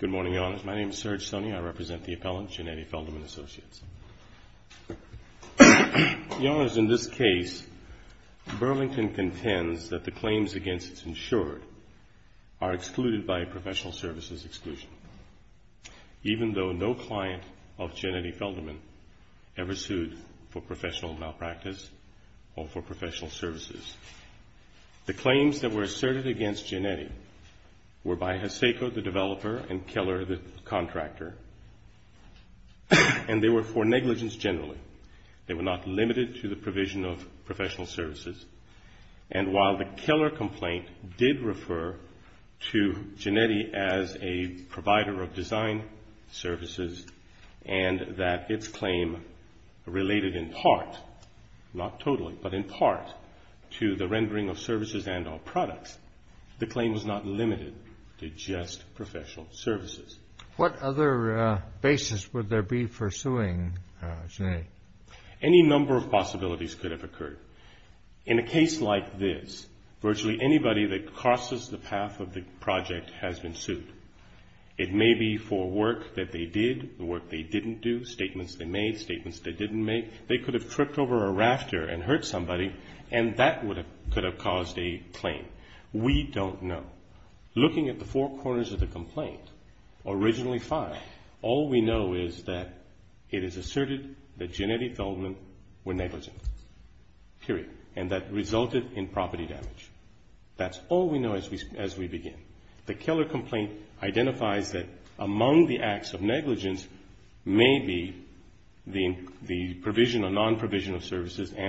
Good morning, Your Honors. My name is Serge Stoney. I represent the appellants, Giannetti Feldman Associates. Your Honors, in this case, Burlington contends that the claims against its insured are excluded by professional services exclusion, even though no client of Giannetti Feldman ever sued for professional malpractice or for professional services. The claims that were asserted against Giannetti were by Haseko, the developer, and Keller, the contractor, and they were for negligence generally. They were not limited to the provision of professional services. And while the Keller complaint did refer to Giannetti as a provider of design services and that its claim related in part, not totally, but in part, to the rendering of services and all products, the claim was not limited to just professional services. What other basis would there be for suing Giannetti? Any number of possibilities could have occurred. In a case like this, virtually anybody that crosses the path of the project has been sued. It may be for work that they did, work they didn't do, statements they made, statements they didn't make. They could have tripped over a rafter and hurt somebody, and that could have caused a claim. We don't know. Looking at the four corners of the complaint, originally five, all we know is that it is asserted that Giannetti Feldman were negligent, period, and that resulted in property damage. That's all we know as we begin. The Keller complaint identifies that among the acts of services and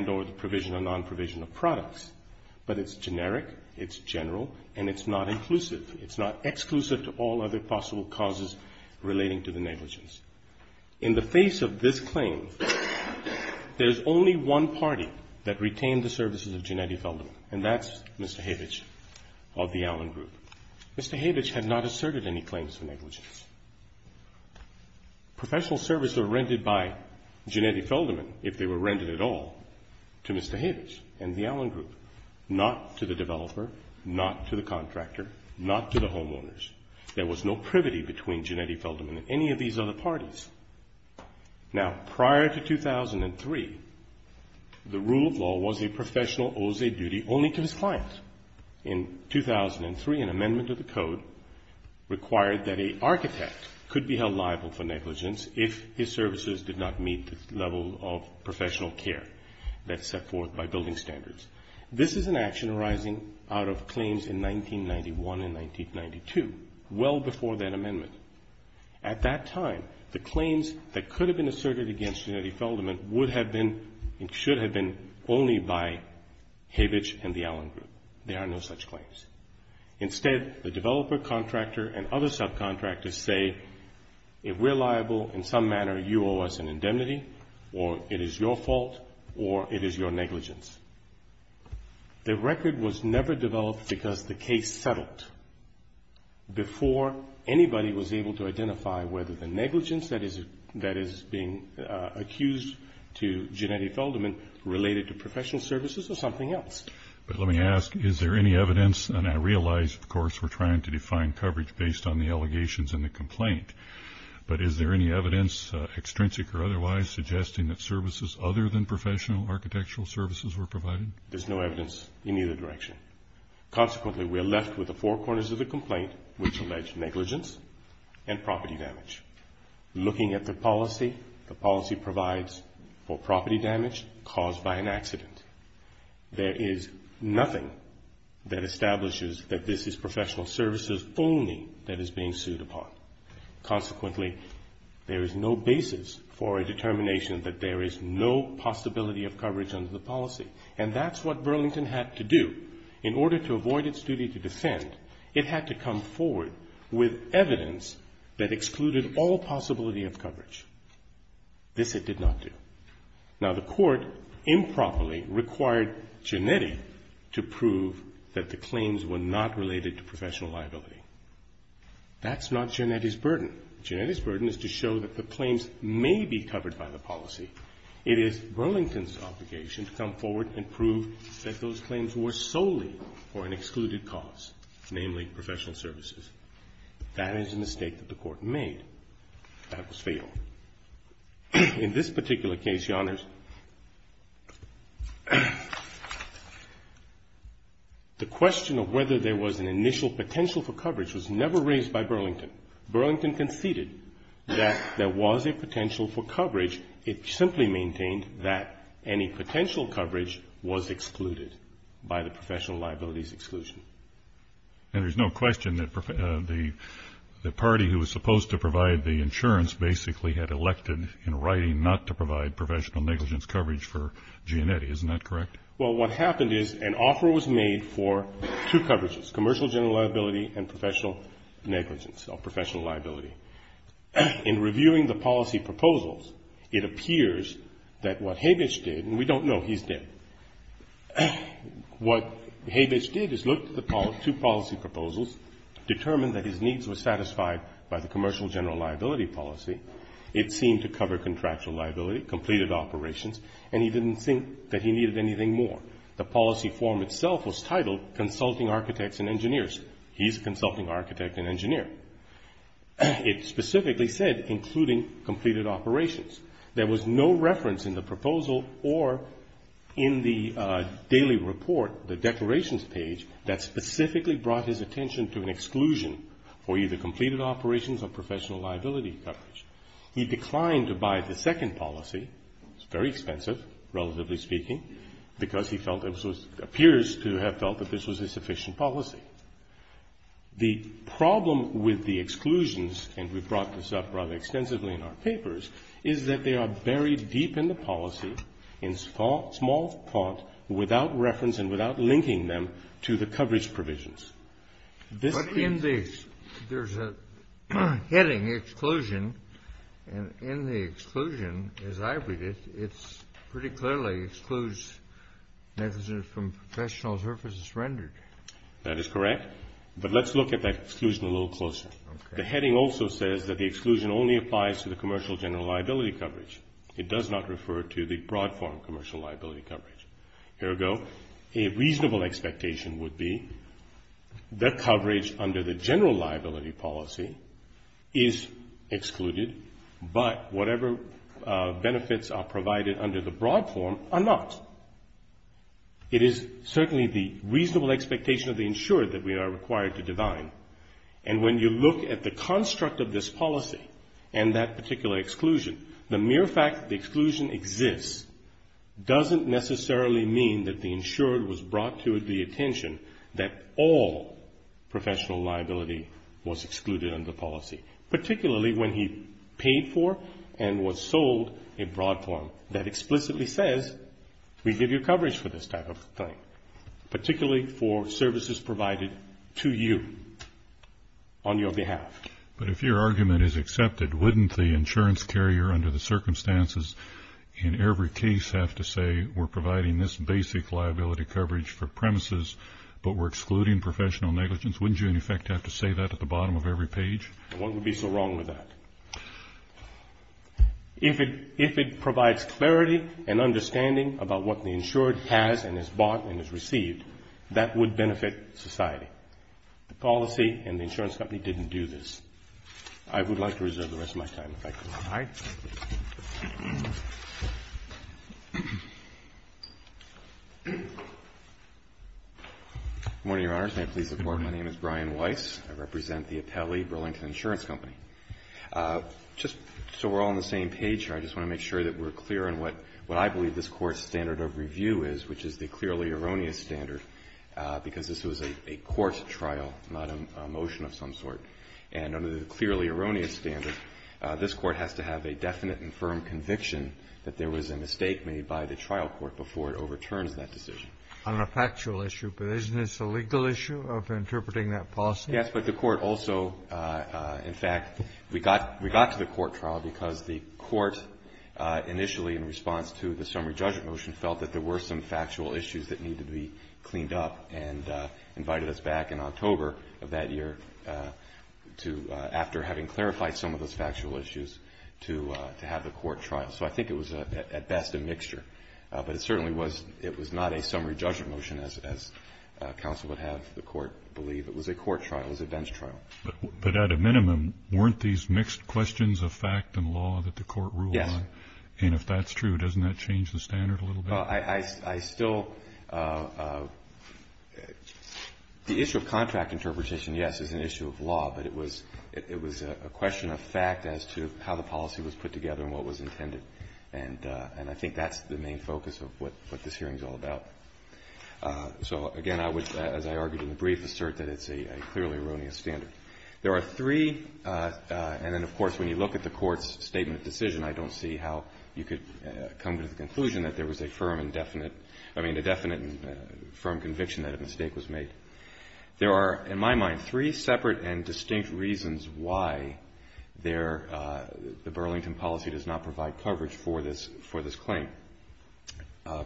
or the provision or non-provision of products, but it's generic, it's general, and it's not inclusive. It's not exclusive to all other possible causes relating to the negligence. In the face of this claim, there's only one party that retained the services of Giannetti Feldman, and that's Mr. Havich of the Allen Group. Mr. Havich had not asserted any claims of negligence. Professional services were rented by Giannetti Feldman, if they were rented at all, to Mr. Havich and the Allen Group, not to the developer, not to the contractor, not to the homeowners. There was no privity between Giannetti Feldman and any of these other parties. Now prior to 2003, the rule of law was a professional owes a duty only to his client. In 2003, an architect could be held liable for negligence if his services did not meet the level of professional care that's set forth by building standards. This is an action arising out of claims in 1991 and 1992, well before that amendment. At that time, the claims that could have been asserted against Giannetti Feldman would have been and should have been only by Havich and the Allen Group. There are no such claims. Instead, the developer, contractor, and other subcontractors say, if we're liable, in some manner you owe us an indemnity, or it is your fault, or it is your negligence. The record was never developed because the case settled before anybody was able to identify whether the negligence that is being accused to Giannetti Feldman related to professional services or something else. But let me ask, is there any evidence, and I realize, of course, we're trying to define coverage based on the allegations in the complaint, but is there any evidence, extrinsic or otherwise, suggesting that services other than professional architectural services were provided? There's no evidence in either direction. Consequently, we're left with the four corners of the complaint which allege negligence and property damage. Looking at the policy, the policy provides for property damage caused by an accident. There is nothing that establishes that this is professional services only that is being sued upon. Consequently, there is no basis for a determination that there is no possibility of coverage under the policy. And that's what Burlington had to do. In order to avoid its duty to defend, it had to come forward with Now, the court improperly required Giannetti to prove that the claims were not related to professional liability. That's not Giannetti's burden. Giannetti's burden is to show that the claims may be covered by the policy. It is Burlington's obligation to come forward and prove that those claims were solely for an excluded cause, namely professional services. That is a mistake that the court made. That was fatal. In this particular case, Your Honors, the question of whether there was an initial potential for coverage was never raised by Burlington. Burlington conceded that there was a potential for coverage. It simply maintained that any potential coverage was excluded by the professional liabilities exclusion. And there's no question that the party who was supposed to provide the insurance basically had elected in writing not to provide professional negligence coverage for Giannetti. Isn't that correct? Well, what happened is an offer was made for two coverages, commercial general liability and professional negligence or professional liability. In reviewing the policy proposals, it appears that what Habitsch did, and we don't know he's dead, what Habitsch did is look at the two policy proposals, determined that his needs were satisfied by the commercial general liability policy. It seemed to cover contractual liability, completed operations, and he didn't think that he needed anything more. The policy form itself was titled consulting architects and engineers. He's a consulting architect and engineer. It specifically said including completed operations. There was no reference in the proposal or in the daily report, the declarations page, that specifically brought his attention to an exclusion for either completed operations or professional liability coverage. He declined to buy the second policy. It's very expensive, relatively speaking, because he felt it was, appears to have felt that this was a sufficient policy. The problem with the exclusions, and we've brought this up rather extensively in our papers, is that they are buried deep in the policy in small font without reference and without linking them to the coverage provisions. But in these, there's a heading, exclusion, and in the exclusion, as I read it, it's pretty clearly excludes negligence from professional services rendered. That is correct, but let's look at that exclusion a little closer. The heading also says that the exclusion only applies to the commercial general liability coverage. It does not refer to the broad form commercial liability coverage. Ergo, a reasonable expectation would be that coverage under the general liability policy is excluded, but whatever benefits are provided under the broad form are not. It is certainly the reasonable expectation of the insured that we are required to divine, and when you look at the construct of this policy and that particular exclusion, the mere fact that the exclusion exists doesn't necessarily mean that the insured was brought to the attention that all professional liability was excluded under the policy, particularly when he paid for and was sold a broad form that explicitly says we give you coverage for this type of thing, particularly for services provided to you on your behalf. But if your argument is accepted, wouldn't the insurance carrier under the circumstances in every case have to say we're providing this basic liability coverage for premises, but we're excluding professional negligence? Wouldn't you in effect have to say that at the bottom of every page? And what would be so wrong with that? If it provides clarity and understanding about what the insured has and has bought and has received, that would benefit society. The policy and the insurance company didn't do this. I would like to reserve the rest of my time if I could. All right. Good morning, Your Honors. May I please have the floor? My name is Brian Weiss. I represent the Apelli Burlington Insurance Company. Just so we're all on the same page here, I just want to make sure that we're clear on what I believe this Court's standard of review is, which is the clearly erroneous standard, because this was a court trial, not a motion of some sort. And under the clearly erroneous standard, this Court has to have a definite and firm conviction that there was a mistake made by the trial court before it overturns that decision. On a factual issue, but isn't this a legal issue of interpreting that policy? Yes, but the Court also, in fact, we got to the court trial because the Court initially in response to the summary judgment motion felt that there were some factual issues that needed to be cleaned up and invited us back in October of that year to, after having clarified some of those factual issues, to have the court trial. So I think it was, at best, a mixture. But it certainly was not a summary judgment motion, as counsel would have the court believe. It was a court trial. It was a bench trial. But at a minimum, weren't these mixed questions of fact and law that the Court ruled on? Yes. And if that's true, doesn't that change the standard a little bit? Well, I still the issue of contract interpretation, yes, is an issue of law. But it was a question of fact as to how the policy was put together and what was intended. And I think that's the main focus of what this hearing is all about. So, again, I would, as I argued in the brief, assert that it's a clearly erroneous standard. There are three. And then, of course, when you look at the Court's statement of decision, I don't see how you could come to the conclusion that there was a firm and definite – I mean, a definite and firm conviction that a mistake was made. There are, in my mind, three separate and distinct reasons why there – the Burlington policy does not provide coverage for this claim.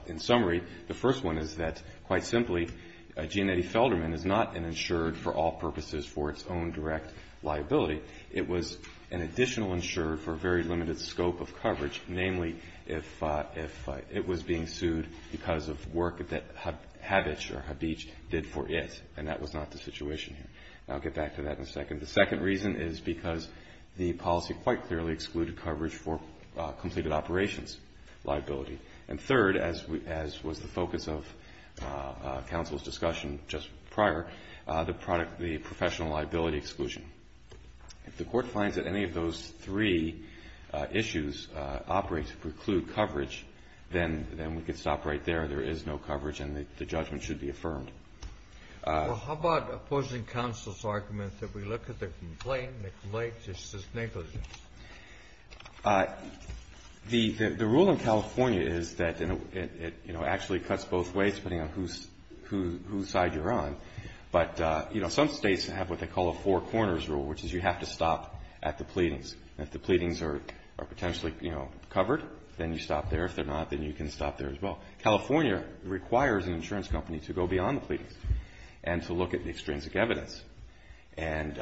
In summary, the first one is that, quite simply, Giannetti Felderman is not an insured for all purposes for its own direct liability. It was an additional insurer for a very limited scope of coverage, namely, if it was being sued because of work that Habich or Habich did for it. And that was not the situation here. I'll get back to that in a second. The second reason is because the policy quite clearly excluded coverage for completed operations liability. And third, as was the focus of counsel's discussion just prior, the professional liability exclusion. If the Court finds that any of those three issues operate to preclude coverage, then we can stop right there. There is no coverage, and the judgment should be affirmed. Well, how about opposing counsel's argument that we look at the complaint and it relates to sustainability? The rule in California is that it actually cuts both ways, depending on whose side you're on. But, you know, some states have what they call a four corners rule, which is you have to stop at the pleadings. And if the pleadings are potentially, you know, covered, then you stop there. If they're not, then you can stop there as well. California requires an insurance company to go beyond the pleadings and to look at the extrinsic evidence. And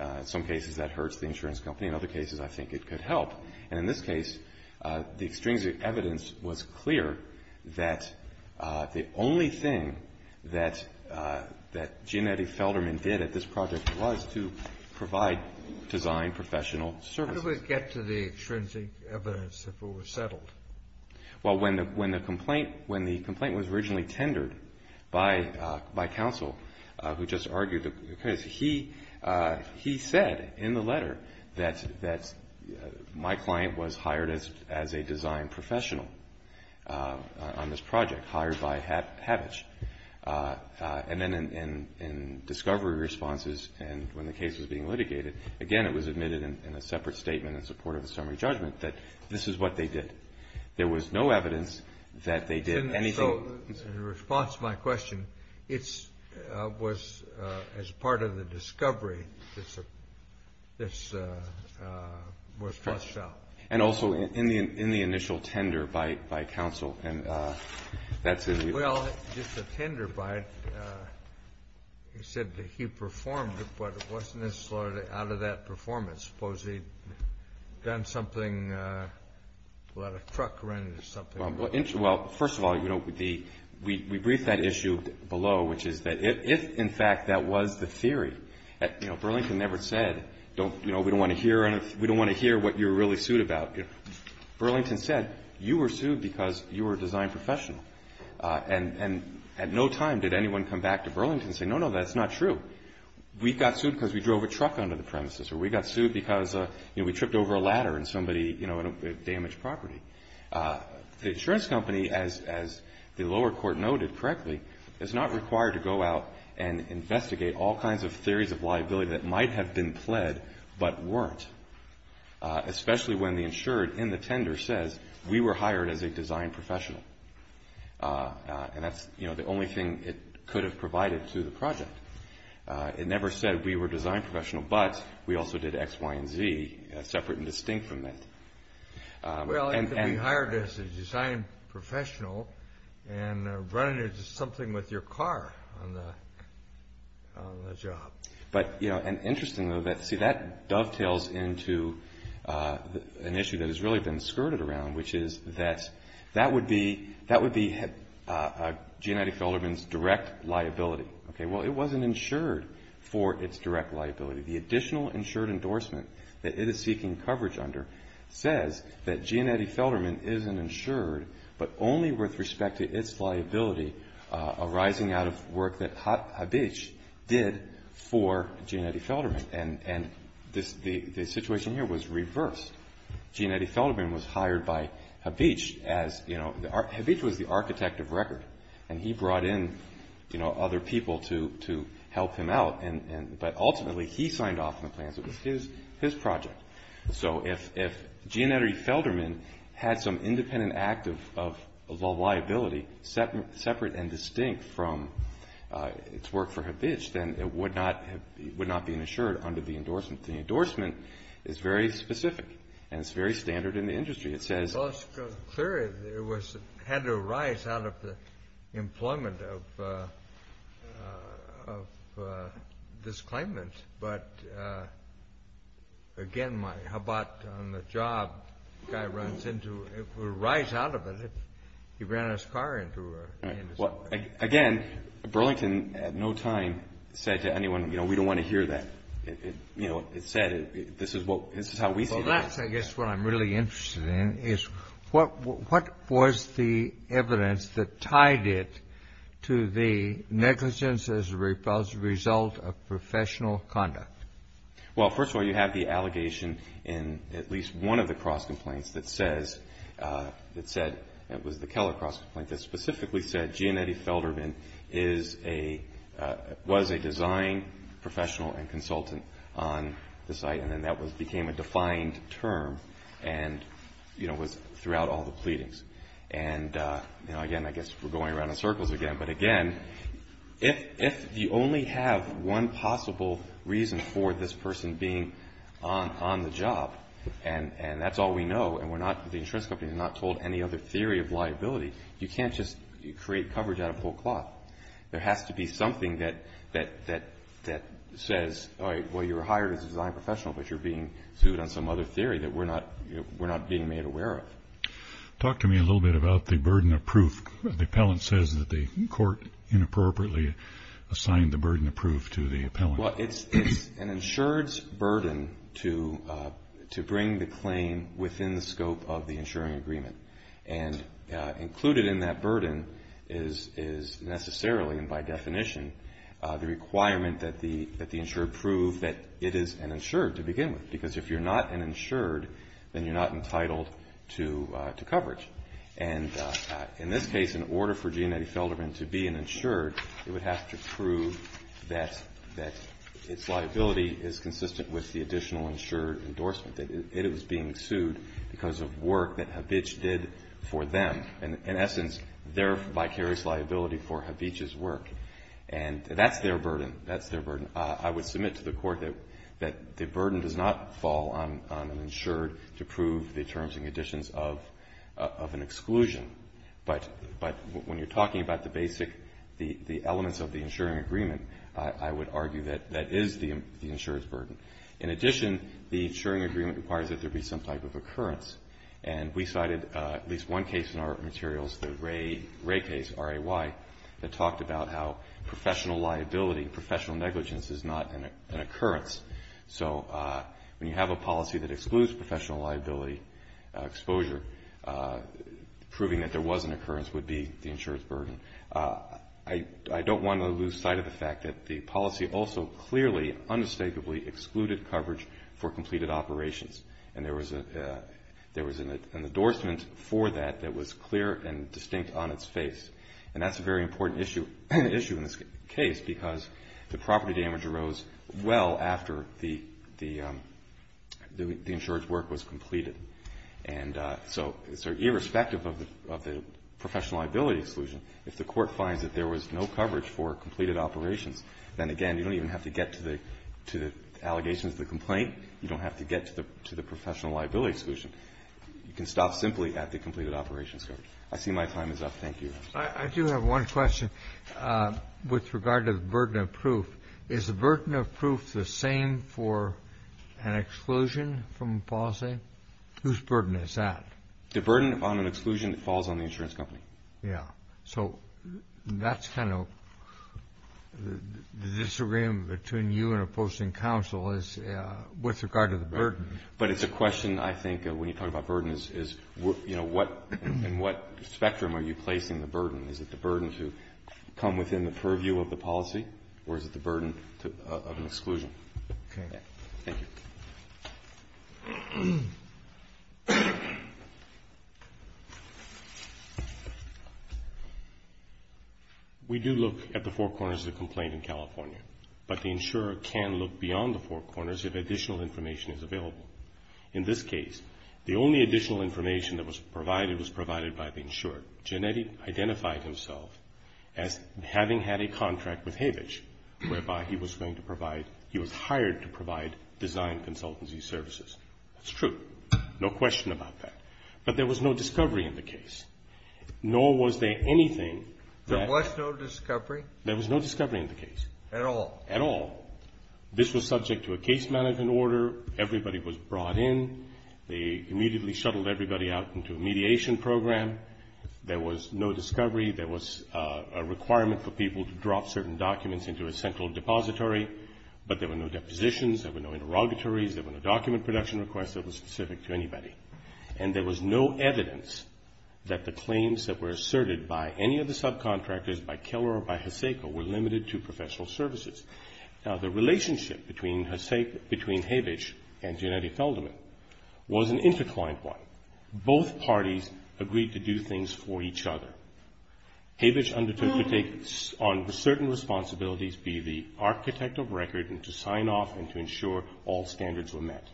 in some cases, that hurts the insurance company. In other cases, I think it could help. And in this case, the extrinsic evidence was clear that the only thing that Jeanette Felderman did at this project was to provide design professional services. How did we get to the extrinsic evidence if it was settled? Well, when the complaint was originally tendered by counsel, who just argued the case, he said in the letter that my client was hired as a design professional on this project, hired by Habich. And then in discovery responses and when the case was being litigated, again, it was admitted in a separate statement in support of the summary judgment that this is what they did. There was no evidence that they did anything. So in response to my question, it was as part of the discovery. This was flushed out. And also in the initial tender by counsel. Well, just a tender by it. He said that he performed it, but it wasn't necessarily out of that performance. Suppose he'd done something, let a truck run into something. Well, first of all, we briefed that issue below, which is that if, in fact, that was the theory, Burlington never said we don't want to hear what you're really sued about. Burlington said you were sued because you were a design professional. And at no time did anyone come back to Burlington and say, no, no, that's not true. We got sued because we drove a truck onto the premises or we got sued because we tripped over a ladder and somebody damaged property. The insurance company, as the lower court noted correctly, is not required to go out and investigate all kinds of theories of liability that might have been pled but weren't, especially when the insured in the tender says we were hired as a design professional. And that's, you know, the only thing it could have provided to the project. It never said we were design professional, but we also did X, Y, and Z, separate and distinct from that. Well, it could be hired as a design professional and running into something with your car on the job. But, you know, and interestingly, see, that dovetails into an issue that has really been skirted around, which is that that would be G&ID Felderman's direct liability. Okay, well, it wasn't insured for its direct liability. The additional insured endorsement that it is seeking coverage under says that G&ID Felderman isn't insured, but only with respect to its liability arising out of work that Habich did for G&ID Felderman. And the situation here was reversed. G&ID Felderman was hired by Habich as, you know, Habich was the architect of record. And he brought in, you know, other people to help him out. But ultimately, he signed off on the plans. It was his project. So if G&ID Felderman had some independent act of liability separate and distinct from its work for Habich, then it would not be insured under the endorsement. The endorsement is very specific, and it's very standard in the industry. Well, it's clear it had to arise out of the employment of this claimant. But, again, how about on the job? The guy runs into it. It would arise out of it. He ran his car into it. Well, again, Burlington at no time said to anyone, you know, we don't want to hear that. You know, it said this is how we see it. Well, that's, I guess, what I'm really interested in is what was the evidence that tied it to the negligence as a result of professional conduct? Well, first of all, you have the allegation in at least one of the cross complaints that says that was the Keller cross complaint that specifically said G&ID Felderman was a design professional and consultant on the site. And then that became a defined term and, you know, was throughout all the pleadings. And, you know, again, I guess we're going around in circles again. But, again, if you only have one possible reason for this person being on the job, and that's all we know, and the insurance company has not told any other theory of liability, you can't just create coverage out of whole cloth. There has to be something that says, all right, well, you were hired as a design professional, but you're being sued on some other theory that we're not being made aware of. Talk to me a little bit about the burden of proof. The appellant says that the court inappropriately assigned the burden of proof to the appellant. Well, it's an insured's burden to bring the claim within the scope of the insuring agreement. And included in that burden is necessarily, and by definition, the requirement that the insured prove that it is an insured to begin with. Because if you're not an insured, then you're not entitled to coverage. And in this case, in order for G&ID Felderman to be an insured, it would have to prove that its liability is consistent with the additional insured endorsement, that it was being sued because of work that Habich did for them. In essence, their vicarious liability for Habich's work. And that's their burden. That's their burden. I would submit to the court that the burden does not fall on an insured to prove the terms and conditions of an exclusion. But when you're talking about the basic elements of the insuring agreement, I would argue that that is the insured's burden. In addition, the insuring agreement requires that there be some type of occurrence. And we cited at least one case in our materials, the Ray case, R-A-Y, that talked about how professional liability, professional negligence is not an occurrence. So when you have a policy that excludes professional liability exposure, proving that there was an occurrence would be the insured's burden. I don't want to lose sight of the fact that the policy also clearly, unmistakably excluded coverage for completed operations. And there was an endorsement for that that was clear and distinct on its face. And that's a very important issue in this case because the property damage arose well after the insured's work was completed. And so irrespective of the professional liability exclusion, if the court finds that there was no coverage for completed operations, then, again, you don't even have to get to the allegations of the complaint. You don't have to get to the professional liability exclusion. You can stop simply at the completed operations coverage. I see my time is up. Thank you, Your Honor. I do have one question with regard to the burden of proof. Is the burden of proof the same for an exclusion from policy? Whose burden is that? The burden on an exclusion falls on the insurance company. Yeah. So that's kind of the disagreement between you and opposing counsel is with regard to the burden. But it's a question, I think, when you talk about burden is, you know, in what spectrum are you placing the burden? Is it the burden to come within the purview of the policy or is it the burden of an exclusion? Okay. Thank you. We do look at the four corners of the complaint in California. But the insurer can look beyond the four corners if additional information is available. In this case, the only additional information that was provided was provided by the insurer. Gennetti identified himself as having had a contract with Havich whereby he was going to provide, he was hired to provide design consultancy services. That's true. No question about that. But there was no discovery in the case, nor was there anything that. There was no discovery? There was no discovery in the case. At all? At all. This was subject to a case management order. Everybody was brought in. They immediately shuttled everybody out into a mediation program. There was no discovery. There was a requirement for people to drop certain documents into a central depository. But there were no depositions. There were no interrogatories. There were no document production requests that were specific to anybody. And there was no evidence that the claims that were asserted by any of the subcontractors, by Keller or by Haseko, were limited to professional services. Now, the relationship between Haseko, between Havich and Gennetti Feldman was an interclined one. Both parties agreed to do things for each other. Havich undertook to take on certain responsibilities, be the architect of record, and to sign off and to ensure all standards were met.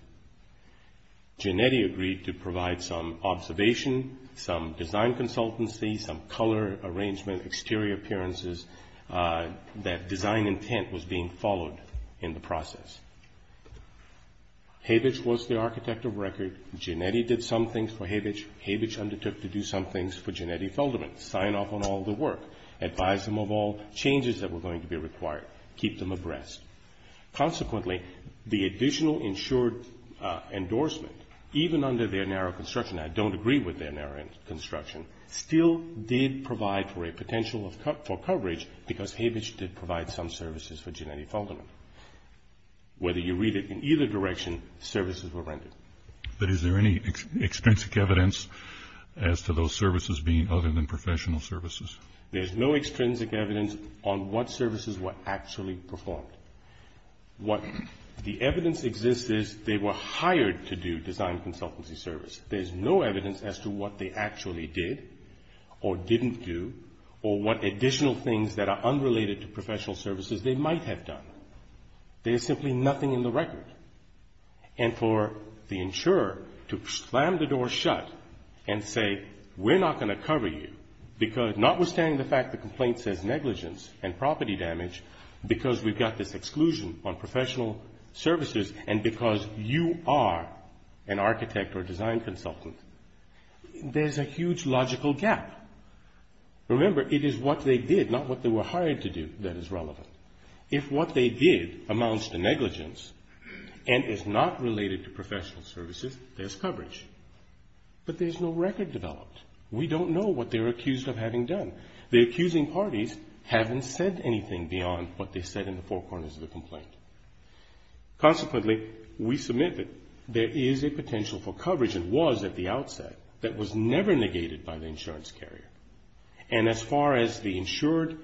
Gennetti agreed to provide some observation, some design consultancy, some color arrangement, exterior appearances, that design intent was being followed in the process. Havich was the architect of record. Gennetti did some things for Havich. Havich undertook to do some things for Gennetti Feldman, sign off on all the work, advise them of all changes that were going to be required, keep them abreast. Consequently, the additional ensured endorsement, even under their narrow construction, I don't agree with their narrow construction, still did provide for a potential for coverage because Havich did provide some services for Gennetti Feldman. Whether you read it in either direction, services were rendered. But is there any extrinsic evidence as to those services being other than professional services? There's no extrinsic evidence on what services were actually performed. What the evidence exists is they were hired to do design consultancy service. There's no evidence as to what they actually did or didn't do or what additional things that are unrelated to professional services they might have done. There's simply nothing in the record. And for the insurer to slam the door shut and say, we're not going to cover you, notwithstanding the fact the complaint says negligence and property damage, because we've got this exclusion on professional services and because you are an architect or design consultant, there's a huge logical gap. Remember, it is what they did, not what they were hired to do, that is relevant. If what they did amounts to negligence and is not related to professional services, there's coverage. But there's no record developed. We don't know what they're accused of having done. The accusing parties haven't said anything beyond what they said in the four corners of the complaint. Consequently, we submit that there is a potential for coverage, and was at the outset, that was never negated by the insurance carrier. And as far as the insured,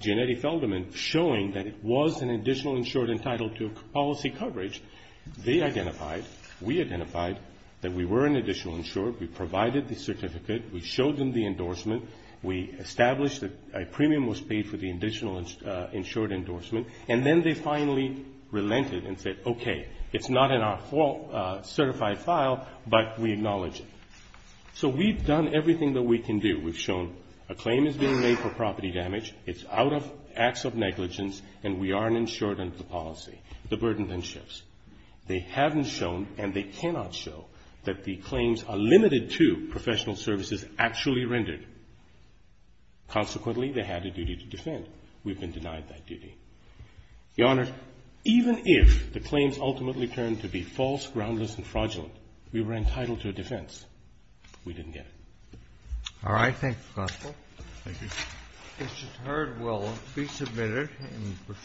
Gennady Feldman, showing that it was an additional insured entitled to policy coverage, they identified, we identified, that we were an additional insured. We provided the certificate. We showed them the endorsement. We established that a premium was paid for the additional insured endorsement. And then they finally relented and said, okay, it's not in our certified file, but we acknowledge it. So we've done everything that we can do. We've shown a claim is being made for property damage. It's out of acts of negligence, and we are an insured under the policy. The burden then shifts. They haven't shown, and they cannot show, that the claims are limited to professional services actually rendered. Consequently, they had a duty to defend. We've been denied that duty. Your Honor, even if the claims ultimately turned to be false, groundless, and fraudulent, we were entitled to a defense. We didn't get it. Roberts. All right. Thank you, Counsel. Thank you. Mr. Turd will be submitted in the proceeding.